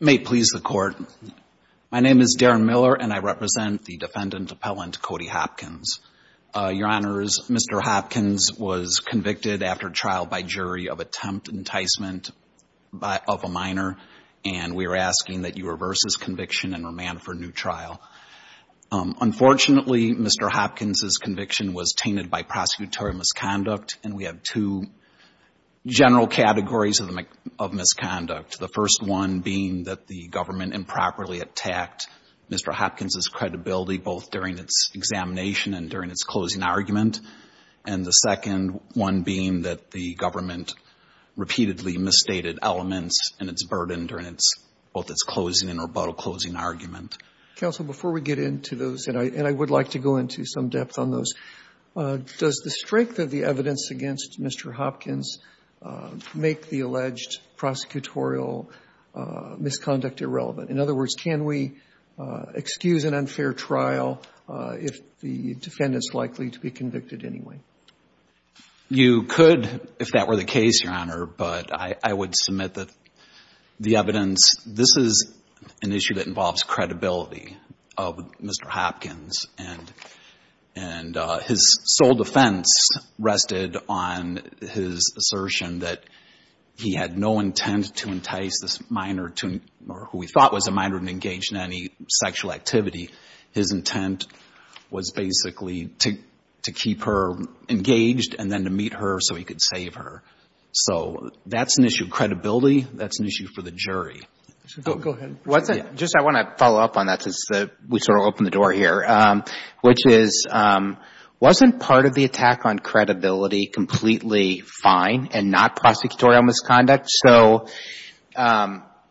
May it please the Court, my name is Darren Miller and I represent the defendant appellant Cody Hopkins. Your Honors, Mr. Hopkins was convicted after trial by jury of attempt enticement of a minor and we are asking that you reverse his conviction and remand for new trial. Unfortunately, Mr. Hopkins' conviction was tainted by prosecutorial misconduct and we have two general categories of misconduct. The first one being that the government improperly attacked Mr. Hopkins' credibility both during its examination and during its closing argument. And the second one being that the government repeatedly misstated elements and its burden during its both its closing and rebuttal closing argument. Counsel, before we get into those, and I would like to go into some depth on those, does the strength of the evidence against Mr. Hopkins make the alleged prosecutorial misconduct irrelevant? In other words, can we excuse an unfair trial if the defendant is likely to be convicted anyway? You could if that were the case, Your Honor, but I would submit that the evidence, this is an issue that involves credibility of Mr. Hopkins and his sole defense rested on his assertion that he had no intent to entice this minor to, or who we thought was a minor, to engage in any sexual activity. His intent was basically to keep her engaged and then to meet her so he could save her. So that's an issue of credibility. That's an issue for the jury. Go ahead. Just I want to follow up on that since we sort of opened the door here, which is, wasn't part of the attack on credibility completely fine and not prosecutorial misconduct? So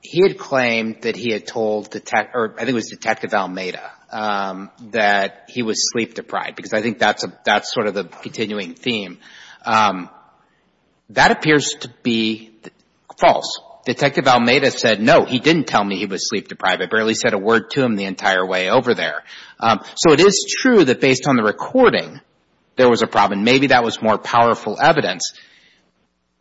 he had claimed that he had told, I think it was Detective Almeida, that he was sleep-deprived because I think that's sort of the continuing theme. That appears to be false. Detective Almeida said, no, he didn't tell me he was sleep-deprived. I barely said a word to him the entire way over there. So it is true that based on the recording there was a problem. Maybe that was more powerful evidence.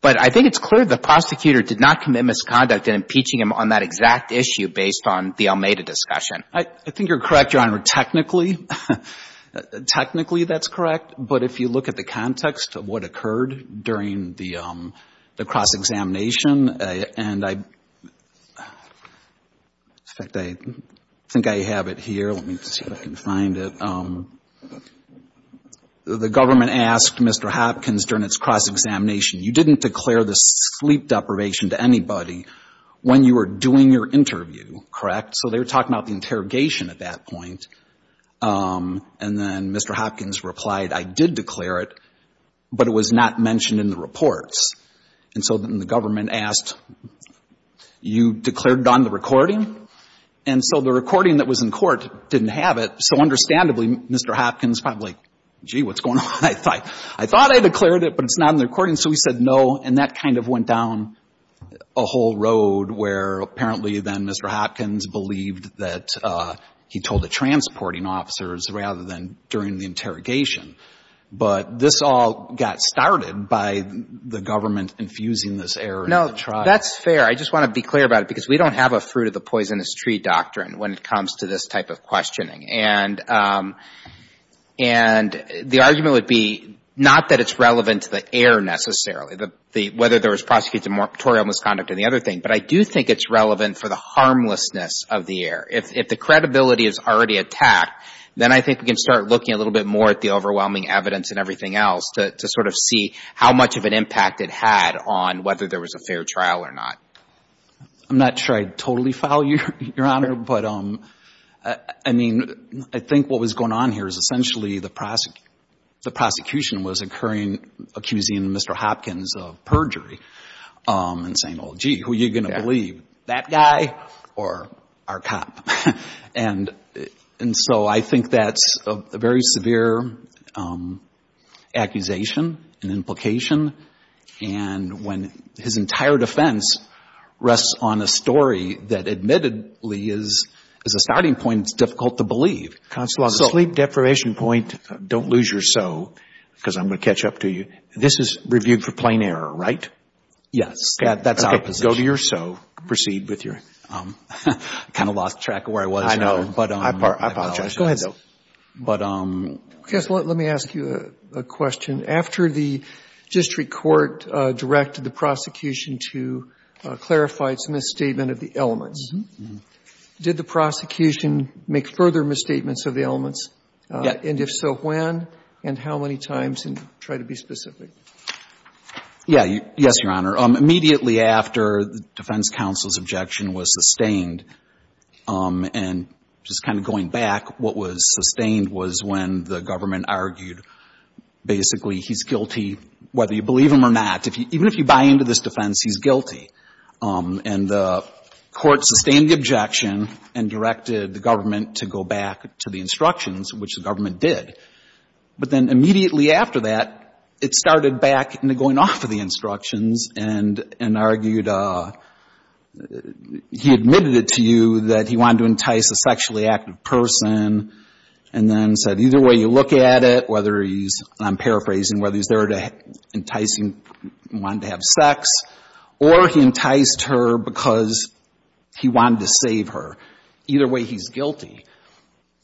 But I think it's clear the prosecutor did not commit misconduct in impeaching him on that exact issue based on the Almeida discussion. I think you're correct, Your Honor, technically. Technically that's correct. But if you look at the context of what occurred during the cross-examination, and I think I have it here. Let me see if I can find it. The government asked Mr. Hopkins during its cross-examination, you didn't declare the sleep deprivation to anybody when you were doing your interview, correct? So they were talking about the interrogation at that point. And then Mr. Hopkins replied, I did declare it, but it was not mentioned in the reports. And so then the didn't have it. So understandably, Mr. Hopkins probably, gee, what's going on? I thought I declared it, but it's not in the recording. So he said no. And that kind of went down a whole road where apparently then Mr. Hopkins believed that he told the transporting officers rather than during the interrogation. But this all got started by the government infusing this error in the trial. No, that's fair. I just want to be clear about it because we don't have a fruit of the poisonous tree doctrine when it comes to this type of questioning. And the argument would be not that it's relevant to the error necessarily, whether there was prosecutorial misconduct and the other thing, but I do think it's relevant for the harmlessness of the error. If the credibility is already attacked, then I think we can start looking a little bit more at the overwhelming evidence and everything else to sort of see how much of an impact it had on whether there was a fair trial or not. I'm not sure I totally follow you, Your Honor, but I mean, I think what was going on here is essentially the prosecution was occurring, accusing Mr. Hopkins of perjury and saying, oh, gee, who are you going to believe, that guy or our cop? And so I think that's a very important point. And I think that rests on a story that admittedly is a starting point that's difficult to believe. Counsel, on the sleep deprivation point, don't lose your so, because I'm going to catch up to you. This is reviewed for plain error, right? Yes. That's our position. Okay. Go to your so. Proceed with your so. I kind of lost track of where I was, Your Honor. I know. I apologize. Go ahead, though. But I'm going to clarify its misstatement of the elements. Did the prosecution make further misstatements of the elements? Yes. And if so, when and how many times? And try to be specific. Yes, Your Honor. Immediately after the defense counsel's objection was sustained and just kind of going back, what was sustained was when the government argued basically he's guilty, whether you believe him or not. Even if you buy into this and the court sustained the objection and directed the government to go back to the instructions, which the government did. But then immediately after that, it started back into going off of the instructions and argued he admitted it to you that he wanted to entice a sexually active person and then said either way you look at it, whether he's, and I'm paraphrasing, whether he's there to entice him and wanted to have sex or he enticed her because he wanted to save her, either way he's guilty.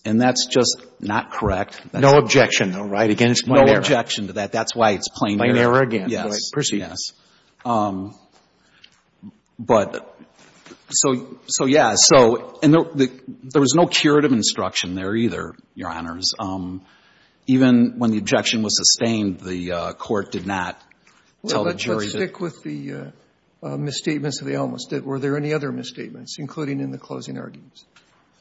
And that's just not correct. No objection, though, right? Again, it's plain error. No objection to that. That's why it's plain error. Plain error again. Yes. Right. Proceed. Yes. But so, yeah. So, and there was no curative instruction there either, Your Honors. Even when the objection was sustained, the court did not tell the jury that the misstatements of the elements. Were there any other misstatements, including in the closing arguments?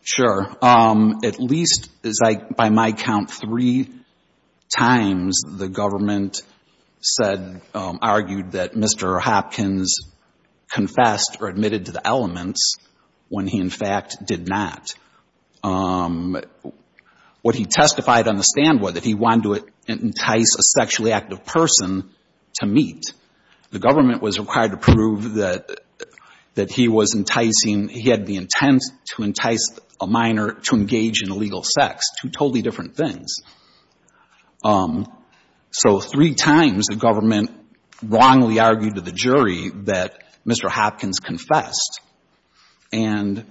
Sure. At least, as I, by my count, three times the government said, argued that Mr. Hopkins confessed or admitted to the elements when he, in fact, did not. What he testified on the stand was that he wanted to entice a sexually active person to meet. The government was required to prove that he was enticing, he had the intent to entice a minor to engage in illegal sex, two totally different things. So three times the government wrongly argued to the jury that Mr. Hopkins confessed. And,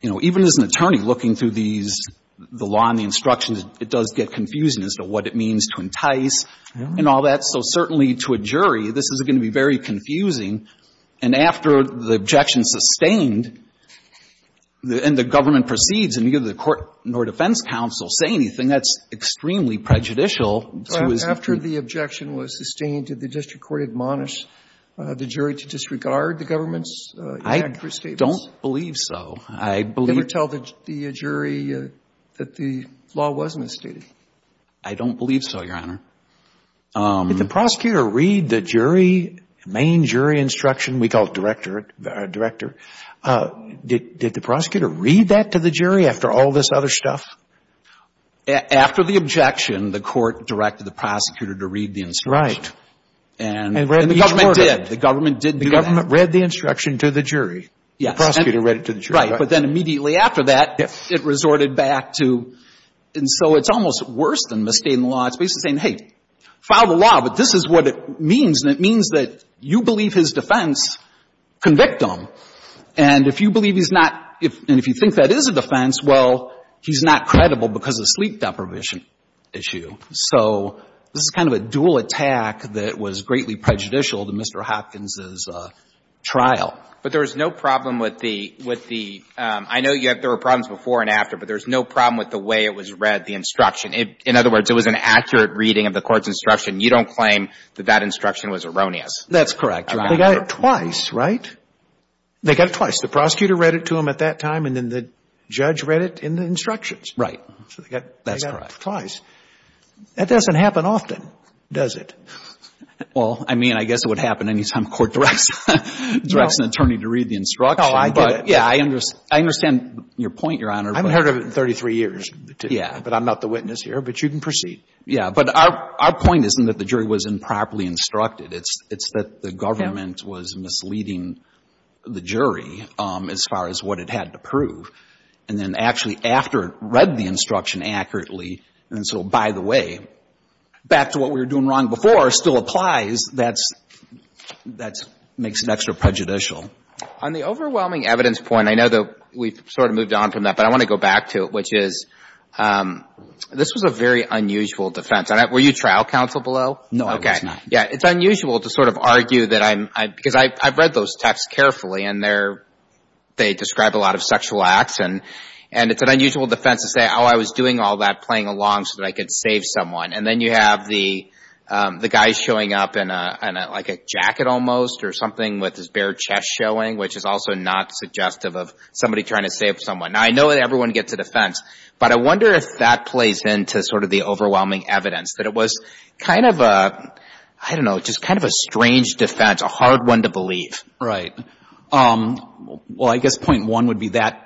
you know, even as an attorney looking through these, the law and the instructions, it does get confusing as to what it means to entice and all that. So certainly to a jury, this is going to be very confusing. And after the objection sustained and the government proceeds and neither the court nor defense counsel say anything, that's extremely prejudicial. So after the objection was sustained, did the district court admonish the jury to disregard the government's inaccurate statements? I don't believe so. Did it tell the jury that the law was misstated? I don't believe so, Your Honor. Did the prosecutor read the jury, main jury instruction, we call it director, did the prosecutor read that to the jury after all this other stuff? After the objection, the court directed the prosecutor to read the instruction. Right. And the government did. The government did do that. The government read the instruction to the jury. Yes. The prosecutor read it to the jury. Right. But then immediately after that, it resorted back to, and so it's almost worse than misstating the law. It's basically saying, hey, file the law, but this is what it means, and it means that you believe his defense, convict him. And if you believe he's not, and if you think that is a defense, well, he's not credible because of sleep deprivation issue. So this is kind of a dual attack that was greatly prejudicial to Mr. Hopkins' trial. But there was no problem with the, I know there were problems before and after, but there was no problem with the way it was read, the instruction. In other words, it was an accurate reading of the court's instruction. You don't claim that that instruction was erroneous. That's correct, Your Honor. They got it twice, right? They got it twice. The prosecutor read it to them at that time, and then the judge read it in the instructions. Right. That's correct. They got it twice. That doesn't happen often, does it? Well, I mean, I guess it would happen any time a court directs an attorney to read the instruction. No, I did it. Yeah, I understand your point, Your Honor. I haven't heard of it in 33 years. Yeah. But I'm not the witness here. But you can proceed. Yeah. But our point isn't that the jury wasn't properly instructed. It's that the government was misleading the jury as far as what it had to prove. And then actually after it read the instruction accurately, and so by the way, back to what we were doing wrong before still applies, that makes it extra prejudicial. On the overwhelming evidence point, I know that we've sort of moved on from that, but I want to go back to it, which is this was a very unusual defense. Were you trial counsel below? No, I was not. Okay. Yeah. It's unusual to sort of argue that I'm — because I've read those texts carefully, and they describe a lot of sexual acts. And it's an unusual defense to say, oh, I was doing all that, playing along so that I could save someone. And then you have the guy showing up in like a jacket almost or something with his bare chest showing, which is also not suggestive of somebody trying to save someone. Now, I know that everyone gets a defense, but I wonder if that plays into sort of the overwhelming evidence, that it was kind of a — I don't know, just kind of a strange defense, a hard one to believe. Right. Well, I guess point one would be that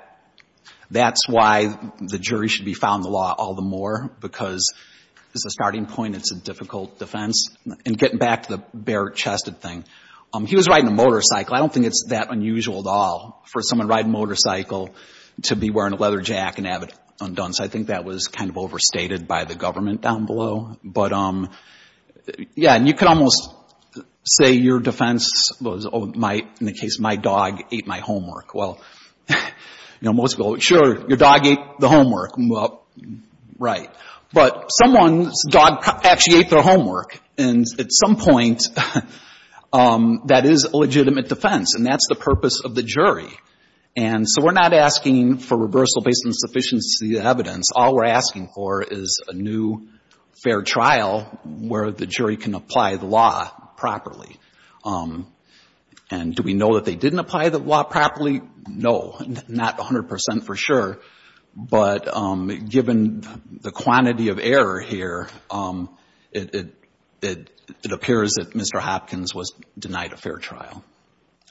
that's why the jury should be found in the law all the more, because it's a starting point, it's a difficult defense. And getting back to the bare-chested thing, he was riding a motorcycle. I don't think it's that unusual at all for someone riding a motorcycle to be wearing a leather jacket and have it undone. So I think that was kind of overstated by the government down below. But, yeah, and you could almost say your defense was, oh, my — in the case of my dog ate my homework. Well, you know, most people go, sure, your dog ate the homework. Well, right. But someone's dog actually ate their homework. And at some point, that is a legitimate defense. And that's the purpose of the jury. And so we're not asking for reversal based on sufficiency of evidence. All we're asking for is a new fair trial where the jury can apply the law properly. And do we know that they didn't apply the law properly? No, not 100 percent for sure. But given the quantity of error here, it appears that Mr. Hopkins was denied a fair trial.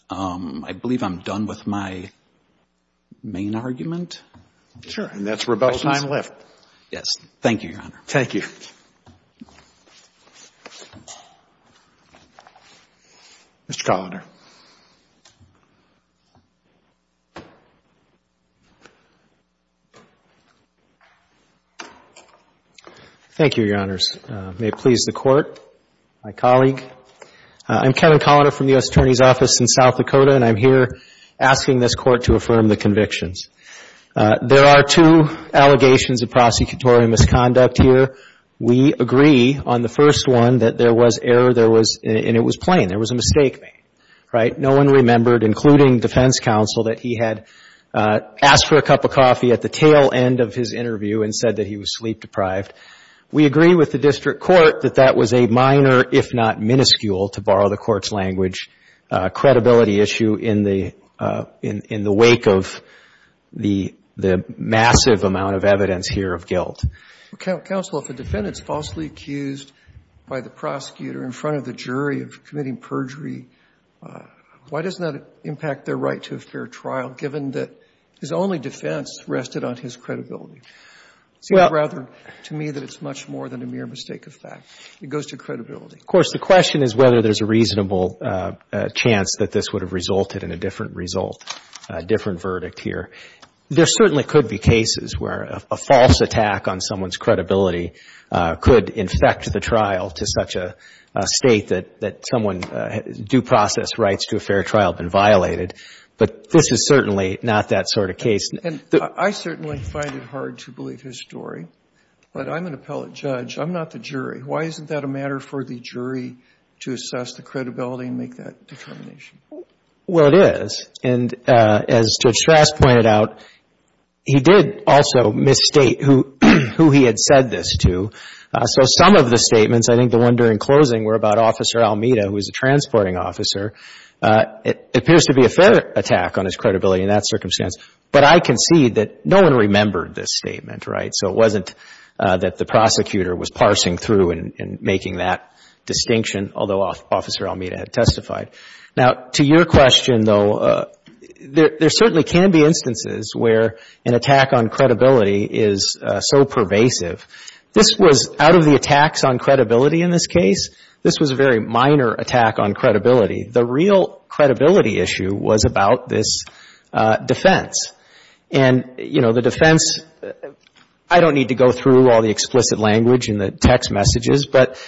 I believe I'm done with my main argument. Sure. And that's rebuttal time left. Yes. Thank you, Your Honor. Thank you. Mr. Colander. Thank you, Your Honors. May it please the Court, my colleague. I'm Kevin Colander from the U.S. Attorney's Office in South Dakota, and I'm here asking this Court to affirm the convictions. There are two allegations of prosecutorial misconduct here. We agree on the first one that there was error, and it was plain. There was a mistake made, right? No one remembered, including defense counsel, that he had asked for a cup of coffee at the tail end of his interview and said that he was sleep deprived. We agree with the district court that that was a minor, if not minuscule, to borrow the massive amount of evidence here of guilt. Counsel, if a defendant's falsely accused by the prosecutor in front of the jury of committing perjury, why doesn't that impact their right to a fair trial, given that his only defense rested on his credibility? Well. It seems rather to me that it's much more than a mere mistake of fact. It goes to credibility. Of course, the question is whether there's a reasonable chance that this would have occurred here. There certainly could be cases where a false attack on someone's credibility could infect the trial to such a state that someone's due process rights to a fair trial have been violated. But this is certainly not that sort of case. And I certainly find it hard to believe his story, but I'm an appellate judge. I'm not the jury. Why isn't that a matter for the jury to assess the credibility and make that determination? Well, it is. And as Judge Strass pointed out, he did also misstate who he had said this to. So some of the statements, I think the one during closing, were about Officer Almeida, who was a transporting officer. It appears to be a fair attack on his credibility in that circumstance. But I concede that no one remembered this statement, right? So it wasn't that the prosecutor was parsing through and making that distinction, although Officer Almeida had testified. Now, to your question, though, there certainly can be instances where an attack on credibility is so pervasive. This was out of the attacks on credibility in this case. This was a very minor attack on credibility. The real credibility issue was about this defense. And, you know, the defense, I don't need to go through all the explicit language and the text messages, but,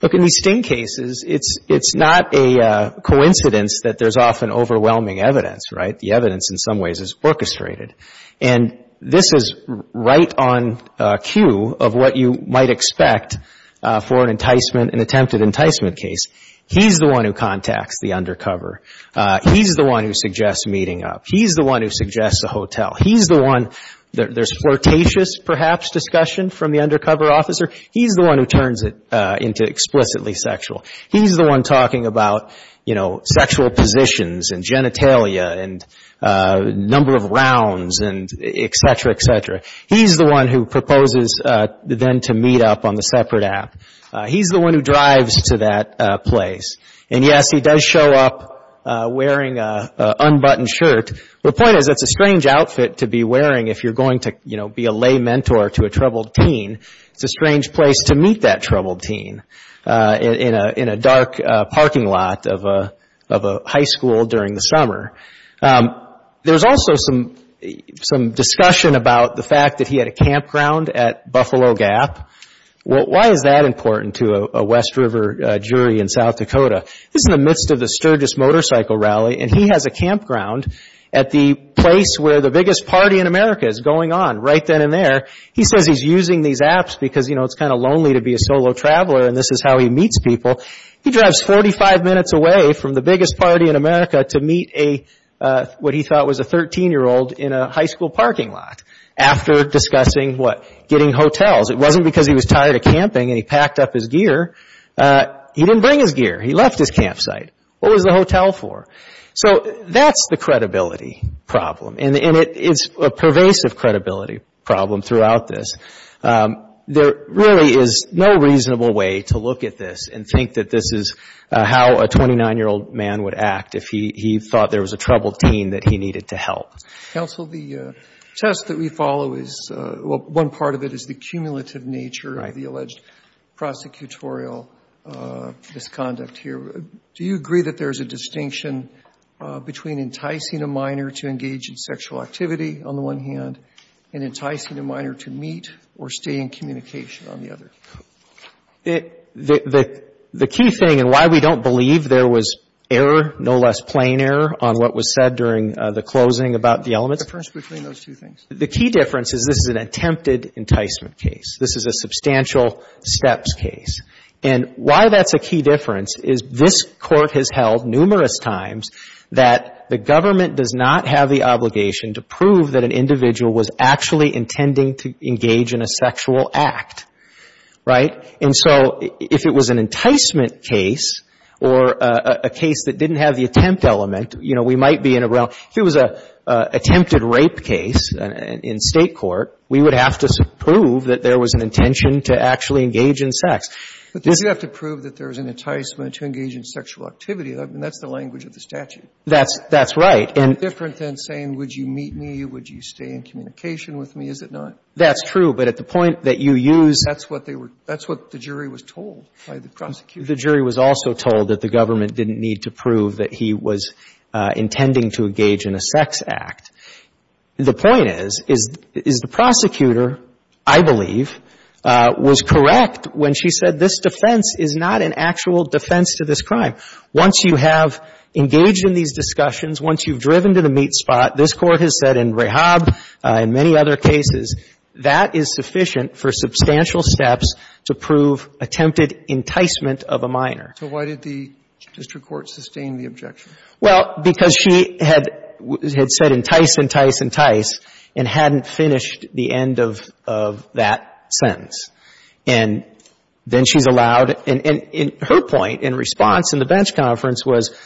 look, in these Sting cases, it's not a coincidence that there's often overwhelming evidence, right? The evidence in some ways is orchestrated. And this is right on cue of what you might expect for an enticement, an attempted enticement case. He's the one who contacts the undercover. He's the one who suggests meeting up. He's the one who suggests a hotel. He's the one that there's flirtatious, perhaps, discussion from the undercover officer. He's the one who turns it into explicitly sexual. He's the one talking about, you know, sexual positions and genitalia and number of rounds and et cetera, et cetera. He's the one who proposes then to meet up on the separate app. He's the one who drives to that place. And, yes, he does show up wearing an unbuttoned shirt. The point is it's a strange outfit to be wearing if you're going to, you know, be a lay mentor to a troubled teen. It's a strange place to meet that troubled teen in a dark parking lot of a high school during the summer. There's also some discussion about the fact that he had a campground at Buffalo Gap. Why is that important to a West River jury in South Dakota? This is in the midst of the Sturgis Motorcycle Rally and he has a campground at the place where the biggest party in America is going on right then and there. He says he's using these apps because, you know, it's kind of lonely to be a solo traveler and this is how he meets people. He drives 45 minutes away from the biggest party in America to meet a, what he thought was a 13-year-old in a high school parking lot after discussing, what, getting hotels. It wasn't because he was tired of camping and he packed up his gear. He didn't bring his gear. He left his campsite. What was the hotel for? So that's the credibility problem and it's a pervasive credibility problem throughout this. There really is no reasonable way to look at this and think that this is how a 29-year-old man would act if he thought there was a troubled teen that he needed to help. Roberts, counsel, the test that we follow is, well, one part of it is the cumulative nature of the alleged prosecutorial misconduct here. Do you agree that there's a distinction between enticing a minor to engage in sexual activity on the one hand and enticing a minor to meet or stay in communication on the other? The key thing and why we don't believe there was error, no less plain error, on what was said during the closing about the elements. The difference between those two things? The key difference is this is an attempted enticement case. This is a substantial steps case. And why that's a key difference is this Court has held numerous times that the government does not have the obligation to prove that an individual was actually intending to engage in a sexual act. Right? And so if it was an enticement case or a case that didn't have the attempt element, you know, we might be in a realm, if it was an attempted rape case in State court, we would have to prove that there was an intention to actually engage in sex. But does it have to prove that there was an enticement to engage in sexual activity? I mean, that's the language of the statute. That's right. And it's different than saying, would you meet me, would you stay in communication with me, is it not? That's true. But at the point that you use That's what they were, that's what the jury was told by the prosecution. The jury was also told that the government didn't need to prove that he was intending to engage in a sex act. The point is, is the prosecutor, I believe, was correct when she said this defense is not an actual defense to this crime. Once you have engaged in these discussions, once you've driven to the meat spot, this Court has said in Rehab, in many other cases, that is sufficient for substantial steps to prove attempted enticement of a minor. So why did the district court sustain the objection? Well, because she had said entice, entice, entice, and hadn't finished the end of that sentence. And then she's allowed, and her point in response in the bench conference was,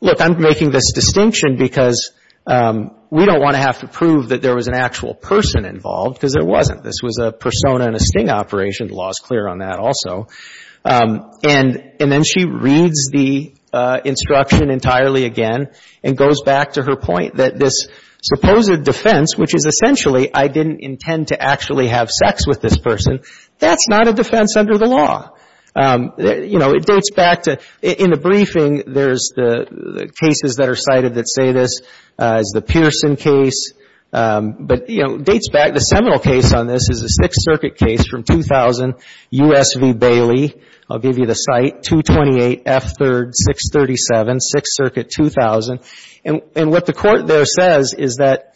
look, I'm making this distinction because we don't want to have to prove that there was an actual person involved, because there wasn't. This was a persona and a sting operation. The law is clear on that also. And then she reads the instruction entirely again and goes back to her point that this supposed defense, which is essentially, I didn't intend to actually have sex with this person, that's not a defense under the law. You know, it dates back to, in the briefing, there's the cases that are cited that say this. There's the Pearson case. But, you know, dates back. The seminal case on this is a Sixth Circuit case from 2000, US v. Bailey. I'll give you the site, 228 F. 3rd, 637, Sixth Circuit, 2000. And what the court there says is that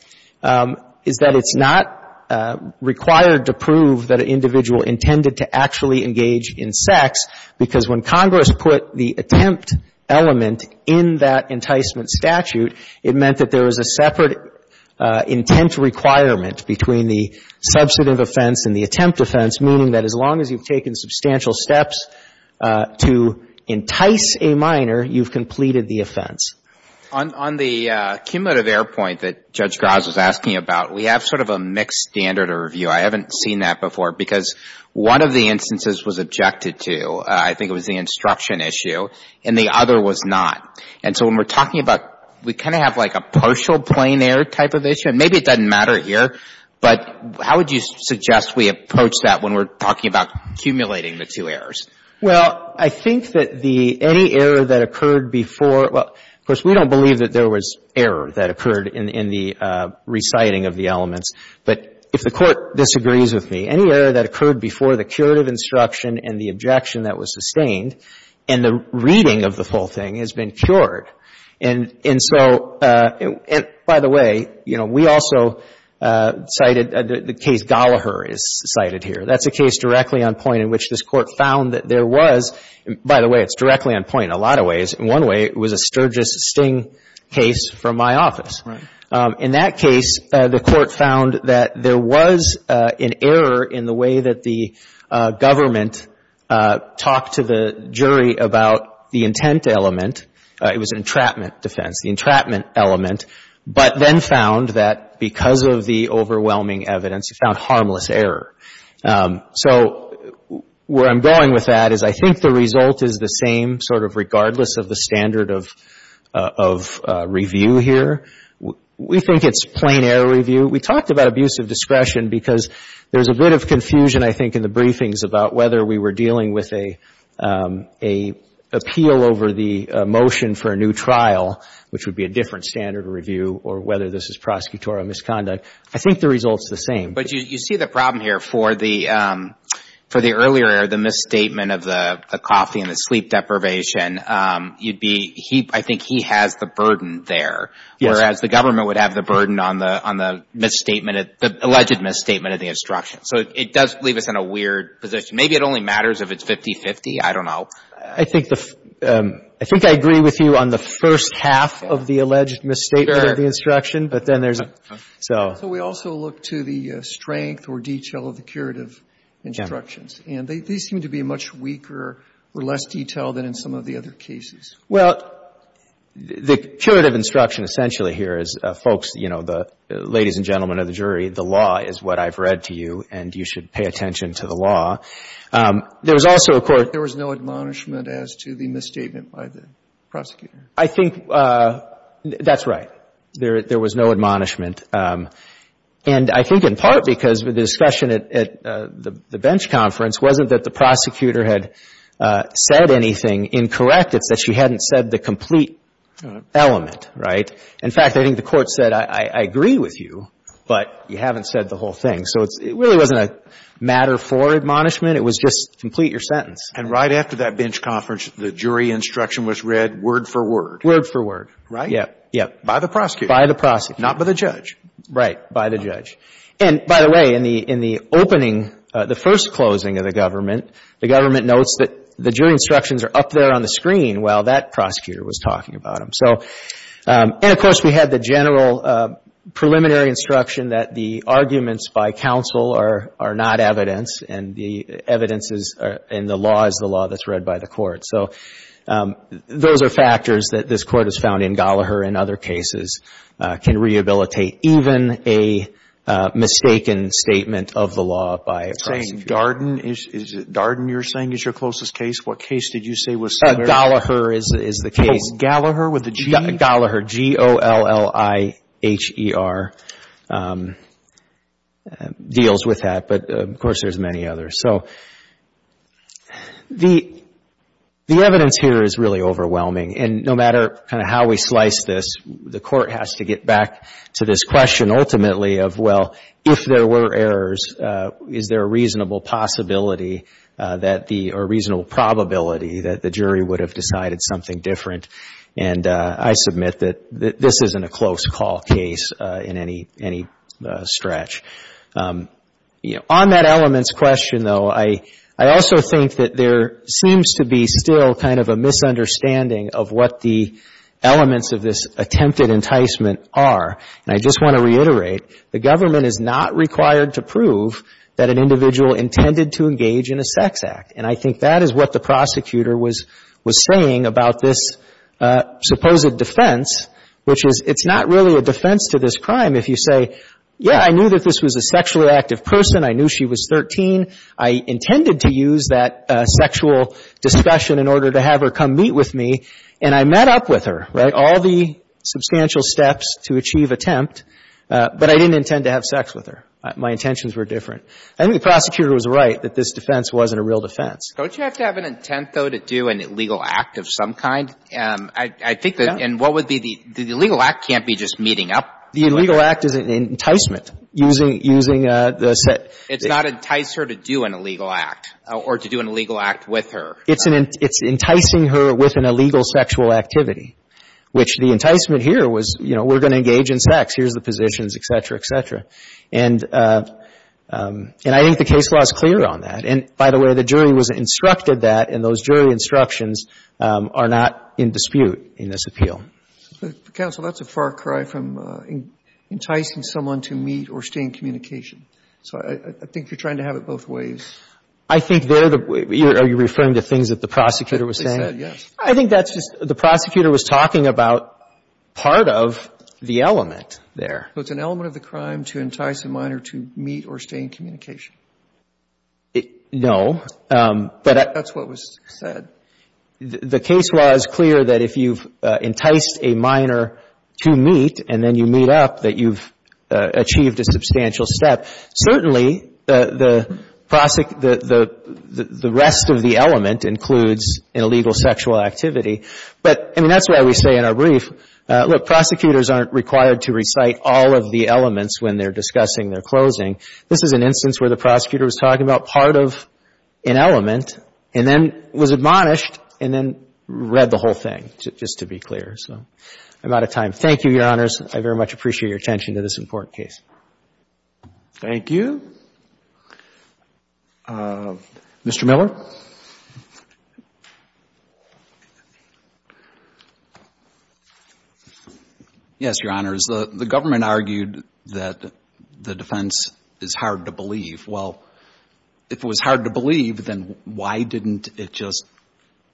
it's not required to prove that an individual intended to actually engage in sex, because when Congress put the attempt element in that enticement statute, it meant that there was a separate intent requirement between the substantive offense and the attempt offense, meaning that as long as you've taken substantial steps to entice a minor, you've completed the offense. On the cumulative error point that Judge Graz was asking about, we have sort of a mixed standard of review. I haven't seen that before, because one of the instances was objected to. I think it was the instruction issue, and the other was not. And so when we're talking about we kind of have like a partial plain error type of issue. Maybe it doesn't matter here, but how would you suggest we approach that when we're talking about accumulating the two errors? Well, I think that the any error that occurred before — well, of course, we don't believe that there was error that occurred in the reciting of the elements. But if the Court disagrees with me, any error that occurred before the curative instruction and the objection that was sustained in the reading of the whole thing has been cured. And so — and by the way, you know, we also cited the case Gallaher is cited here. That's a case directly on point in which this Court found that there was — by the way, it's directly on point in a lot of ways. In one way, it was a Sturgis-Sting case from my office. Right. In that case, the Court found that there was an error in the way that the government talked to the jury about the intent element. It was an entrapment defense, the entrapment element. But then found that because of the overwhelming evidence, you found harmless error. So where I'm going with that is I think the result is the same sort of regardless of the standard of review here. We think it's plain error review. We talked about abusive discretion because there's a bit of confusion, I think, in the briefings about whether we were dealing with an appeal over the motion for a new trial, which would be a different standard of review, or whether this is prosecutorial misconduct. I think the result's the same. But you see the problem here for the earlier error, the misstatement of the coffee and the sleep deprivation, you'd be, I think he has the burden there, whereas the government would have the burden on the misstatement, the alleged misstatement of the instruction. So it does leave us in a weird position. Maybe it only matters if it's 50-50. I don't know. I think the, I think I agree with you on the first half of the alleged misstatement of the instruction. But then there's, so. So we also look to the strength or detail of the curative instructions. And they seem to be much weaker or less detailed than in some of the other cases. Well, the curative instruction essentially here is, folks, you know, the ladies and gentlemen of the jury, the law is what I've read to you, and you should pay attention to the law. There was also a court. There was no admonishment as to the misstatement by the prosecutor. I think that's right. There was no admonishment. And I think in part because the discussion at the bench conference wasn't that the prosecutor had said anything incorrect. It's that she hadn't said the complete element. Right? In fact, I think the Court said, I agree with you, but you haven't said the whole thing. So it really wasn't a matter for admonishment. It was just complete your sentence. And right after that bench conference, the jury instruction was read word for word. Word for word. Right? Yeah. By the prosecutor. By the prosecutor. Not by the judge. Right. By the judge. And, by the way, in the opening, the first closing of the government, the government notes that the jury instructions are up there on the screen while that prosecutor was talking about them. And, of course, we had the general preliminary instruction that the arguments by counsel are not evidence, and the law is the law that's read by the Court. So those are factors that this Court has found in Gallagher and other cases can rehabilitate even a mistaken statement of the law by a prosecutor. You're saying Darden is your closest case? What case did you say was similar? Gallagher is the case. Gallagher with a G? Gallagher. G-O-L-L-I-H-E-R deals with that, but, of course, there's many others. So the evidence here is really overwhelming. And no matter kind of how we slice this, the Court has to get back to this question ultimately of, well, if there were errors, is there a reasonable possibility that the — or reasonable probability that the jury would have decided something different? And I submit that this isn't a close call case in any stretch. On that elements question, though, I also think that there seems to be still kind of a misunderstanding of what the elements of this attempted enticement are. And I just want to reiterate, the government is not required to prove that an individual intended to engage in a sex act. And I think that is what the prosecutor was saying about this supposed defense, which is it's not really a defense to this crime if you say, yeah, I knew that this was a sexually active person, I knew she was 13, I intended to use that sexual discussion in order to have her come meet with me, and I met up with her, right, all the substantial steps to achieve attempt, but I didn't intend to have sex with her. My intentions were different. I think the prosecutor was right that this defense wasn't a real defense. Don't you have to have an intent, though, to do an illegal act of some kind? I think that, and what would be the, the illegal act can't be just meeting up. The illegal act is an enticement using, using the set. It's not entice her to do an illegal act or to do an illegal act with her. It's an, it's enticing her with an illegal sexual activity, which the enticement here was, you know, we're going to engage in sex. Here's the positions, et cetera, et cetera. And I think the case law is clear on that. And by the way, the jury was instructed that, and those jury instructions are not in dispute in this appeal. Counsel, that's a far cry from enticing someone to meet or stay in communication. So I think you're trying to have it both ways. I think they're the, are you referring to things that the prosecutor was saying? They said, yes. I think that's just, the prosecutor was talking about part of the element there. So it's an element of the crime to entice a minor to meet or stay in communication. No. That's what was said. The case law is clear that if you've enticed a minor to meet and then you meet up, that you've achieved a substantial step. Certainly, the rest of the element includes an illegal sexual activity. But, I mean, that's why we say in our brief, look, prosecutors aren't required to recite all of the elements when they're discussing their closing. This is an instance where the prosecutor was talking about part of an element and then was admonished and then read the whole thing, just to be clear. So I'm out of time. Thank you, Your Honors. I very much appreciate your attention to this important case. Thank you. Mr. Miller? Yes, Your Honors. The government argued that the defense is hard to believe. Well, if it was hard to believe, then why didn't it just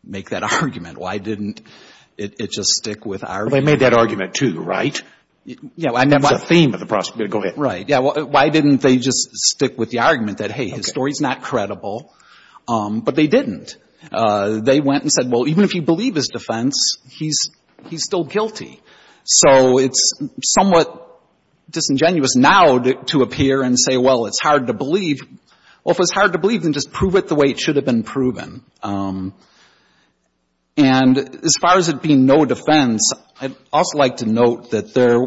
make that argument? Why didn't it just stick with our argument? They made that argument, too, right? Yeah. That's the theme of the prosecutor. Go ahead. Right. Yeah. Why didn't they just stick with the argument that, hey, his story's not credible? But they didn't. They went and said, well, even if you believe his defense, he's still guilty. So it's somewhat disingenuous now to appear and say, well, it's hard to believe. Well, if it's hard to believe, then just prove it the way it should have been proven. And as far as it being no defense, I'd also like to note that there,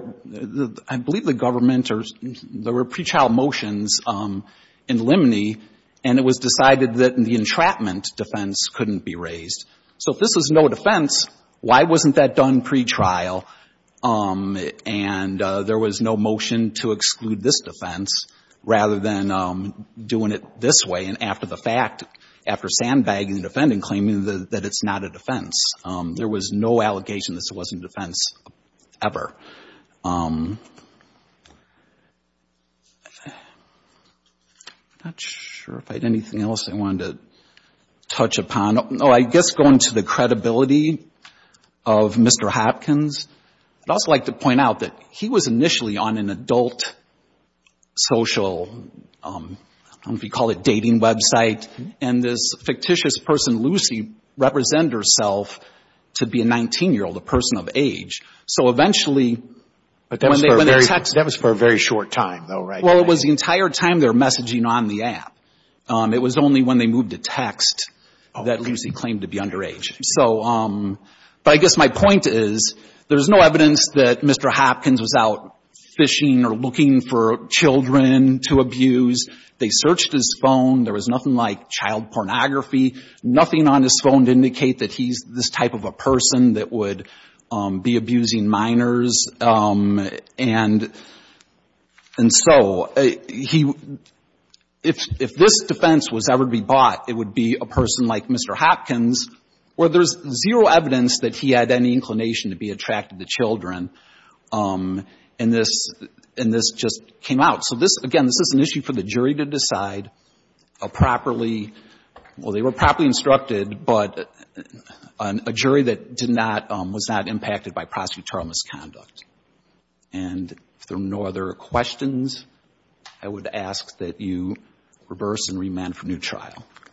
I believe, the government, there were pretrial motions in Limney, and it was decided that the entrapment defense couldn't be raised. So if this is no defense, why wasn't that done pretrial and there was no motion to exclude this defense rather than doing it this way and after the fact, after sandbagging the defendant and claiming that it's not a defense? There was no allegation this wasn't defense ever. I'm not sure if I had anything else I wanted to touch upon. No, I guess going to the credibility of Mr. Hopkins, I'd also like to point out that he was initially on an adult social, I don't know if you'd call it dating website, and this fictitious person, Lucy, represented herself to be a 19-year-old, a person of age. So eventually when they were texting. But that was for a very short time, though, right? Well, it was the entire time they were messaging on the app. It was only when they moved to text that Lucy claimed to be underage. But I guess my point is there's no evidence that Mr. Hopkins was out fishing or looking for children to abuse. They searched his phone. There was nothing like child pornography, nothing on his phone to indicate that he's this type of a person that would be abusing minors. And so if this defense was ever to be bought, it would be a person like Mr. Hopkins where there's zero evidence that he had any inclination to be attracted to children, and this just came out. So this, again, this is an issue for the jury to decide properly. Well, they were properly instructed, but a jury that did not, was not impacted by prosecutorial misconduct. And if there are no other questions, I would ask that you reverse and remand for new trial.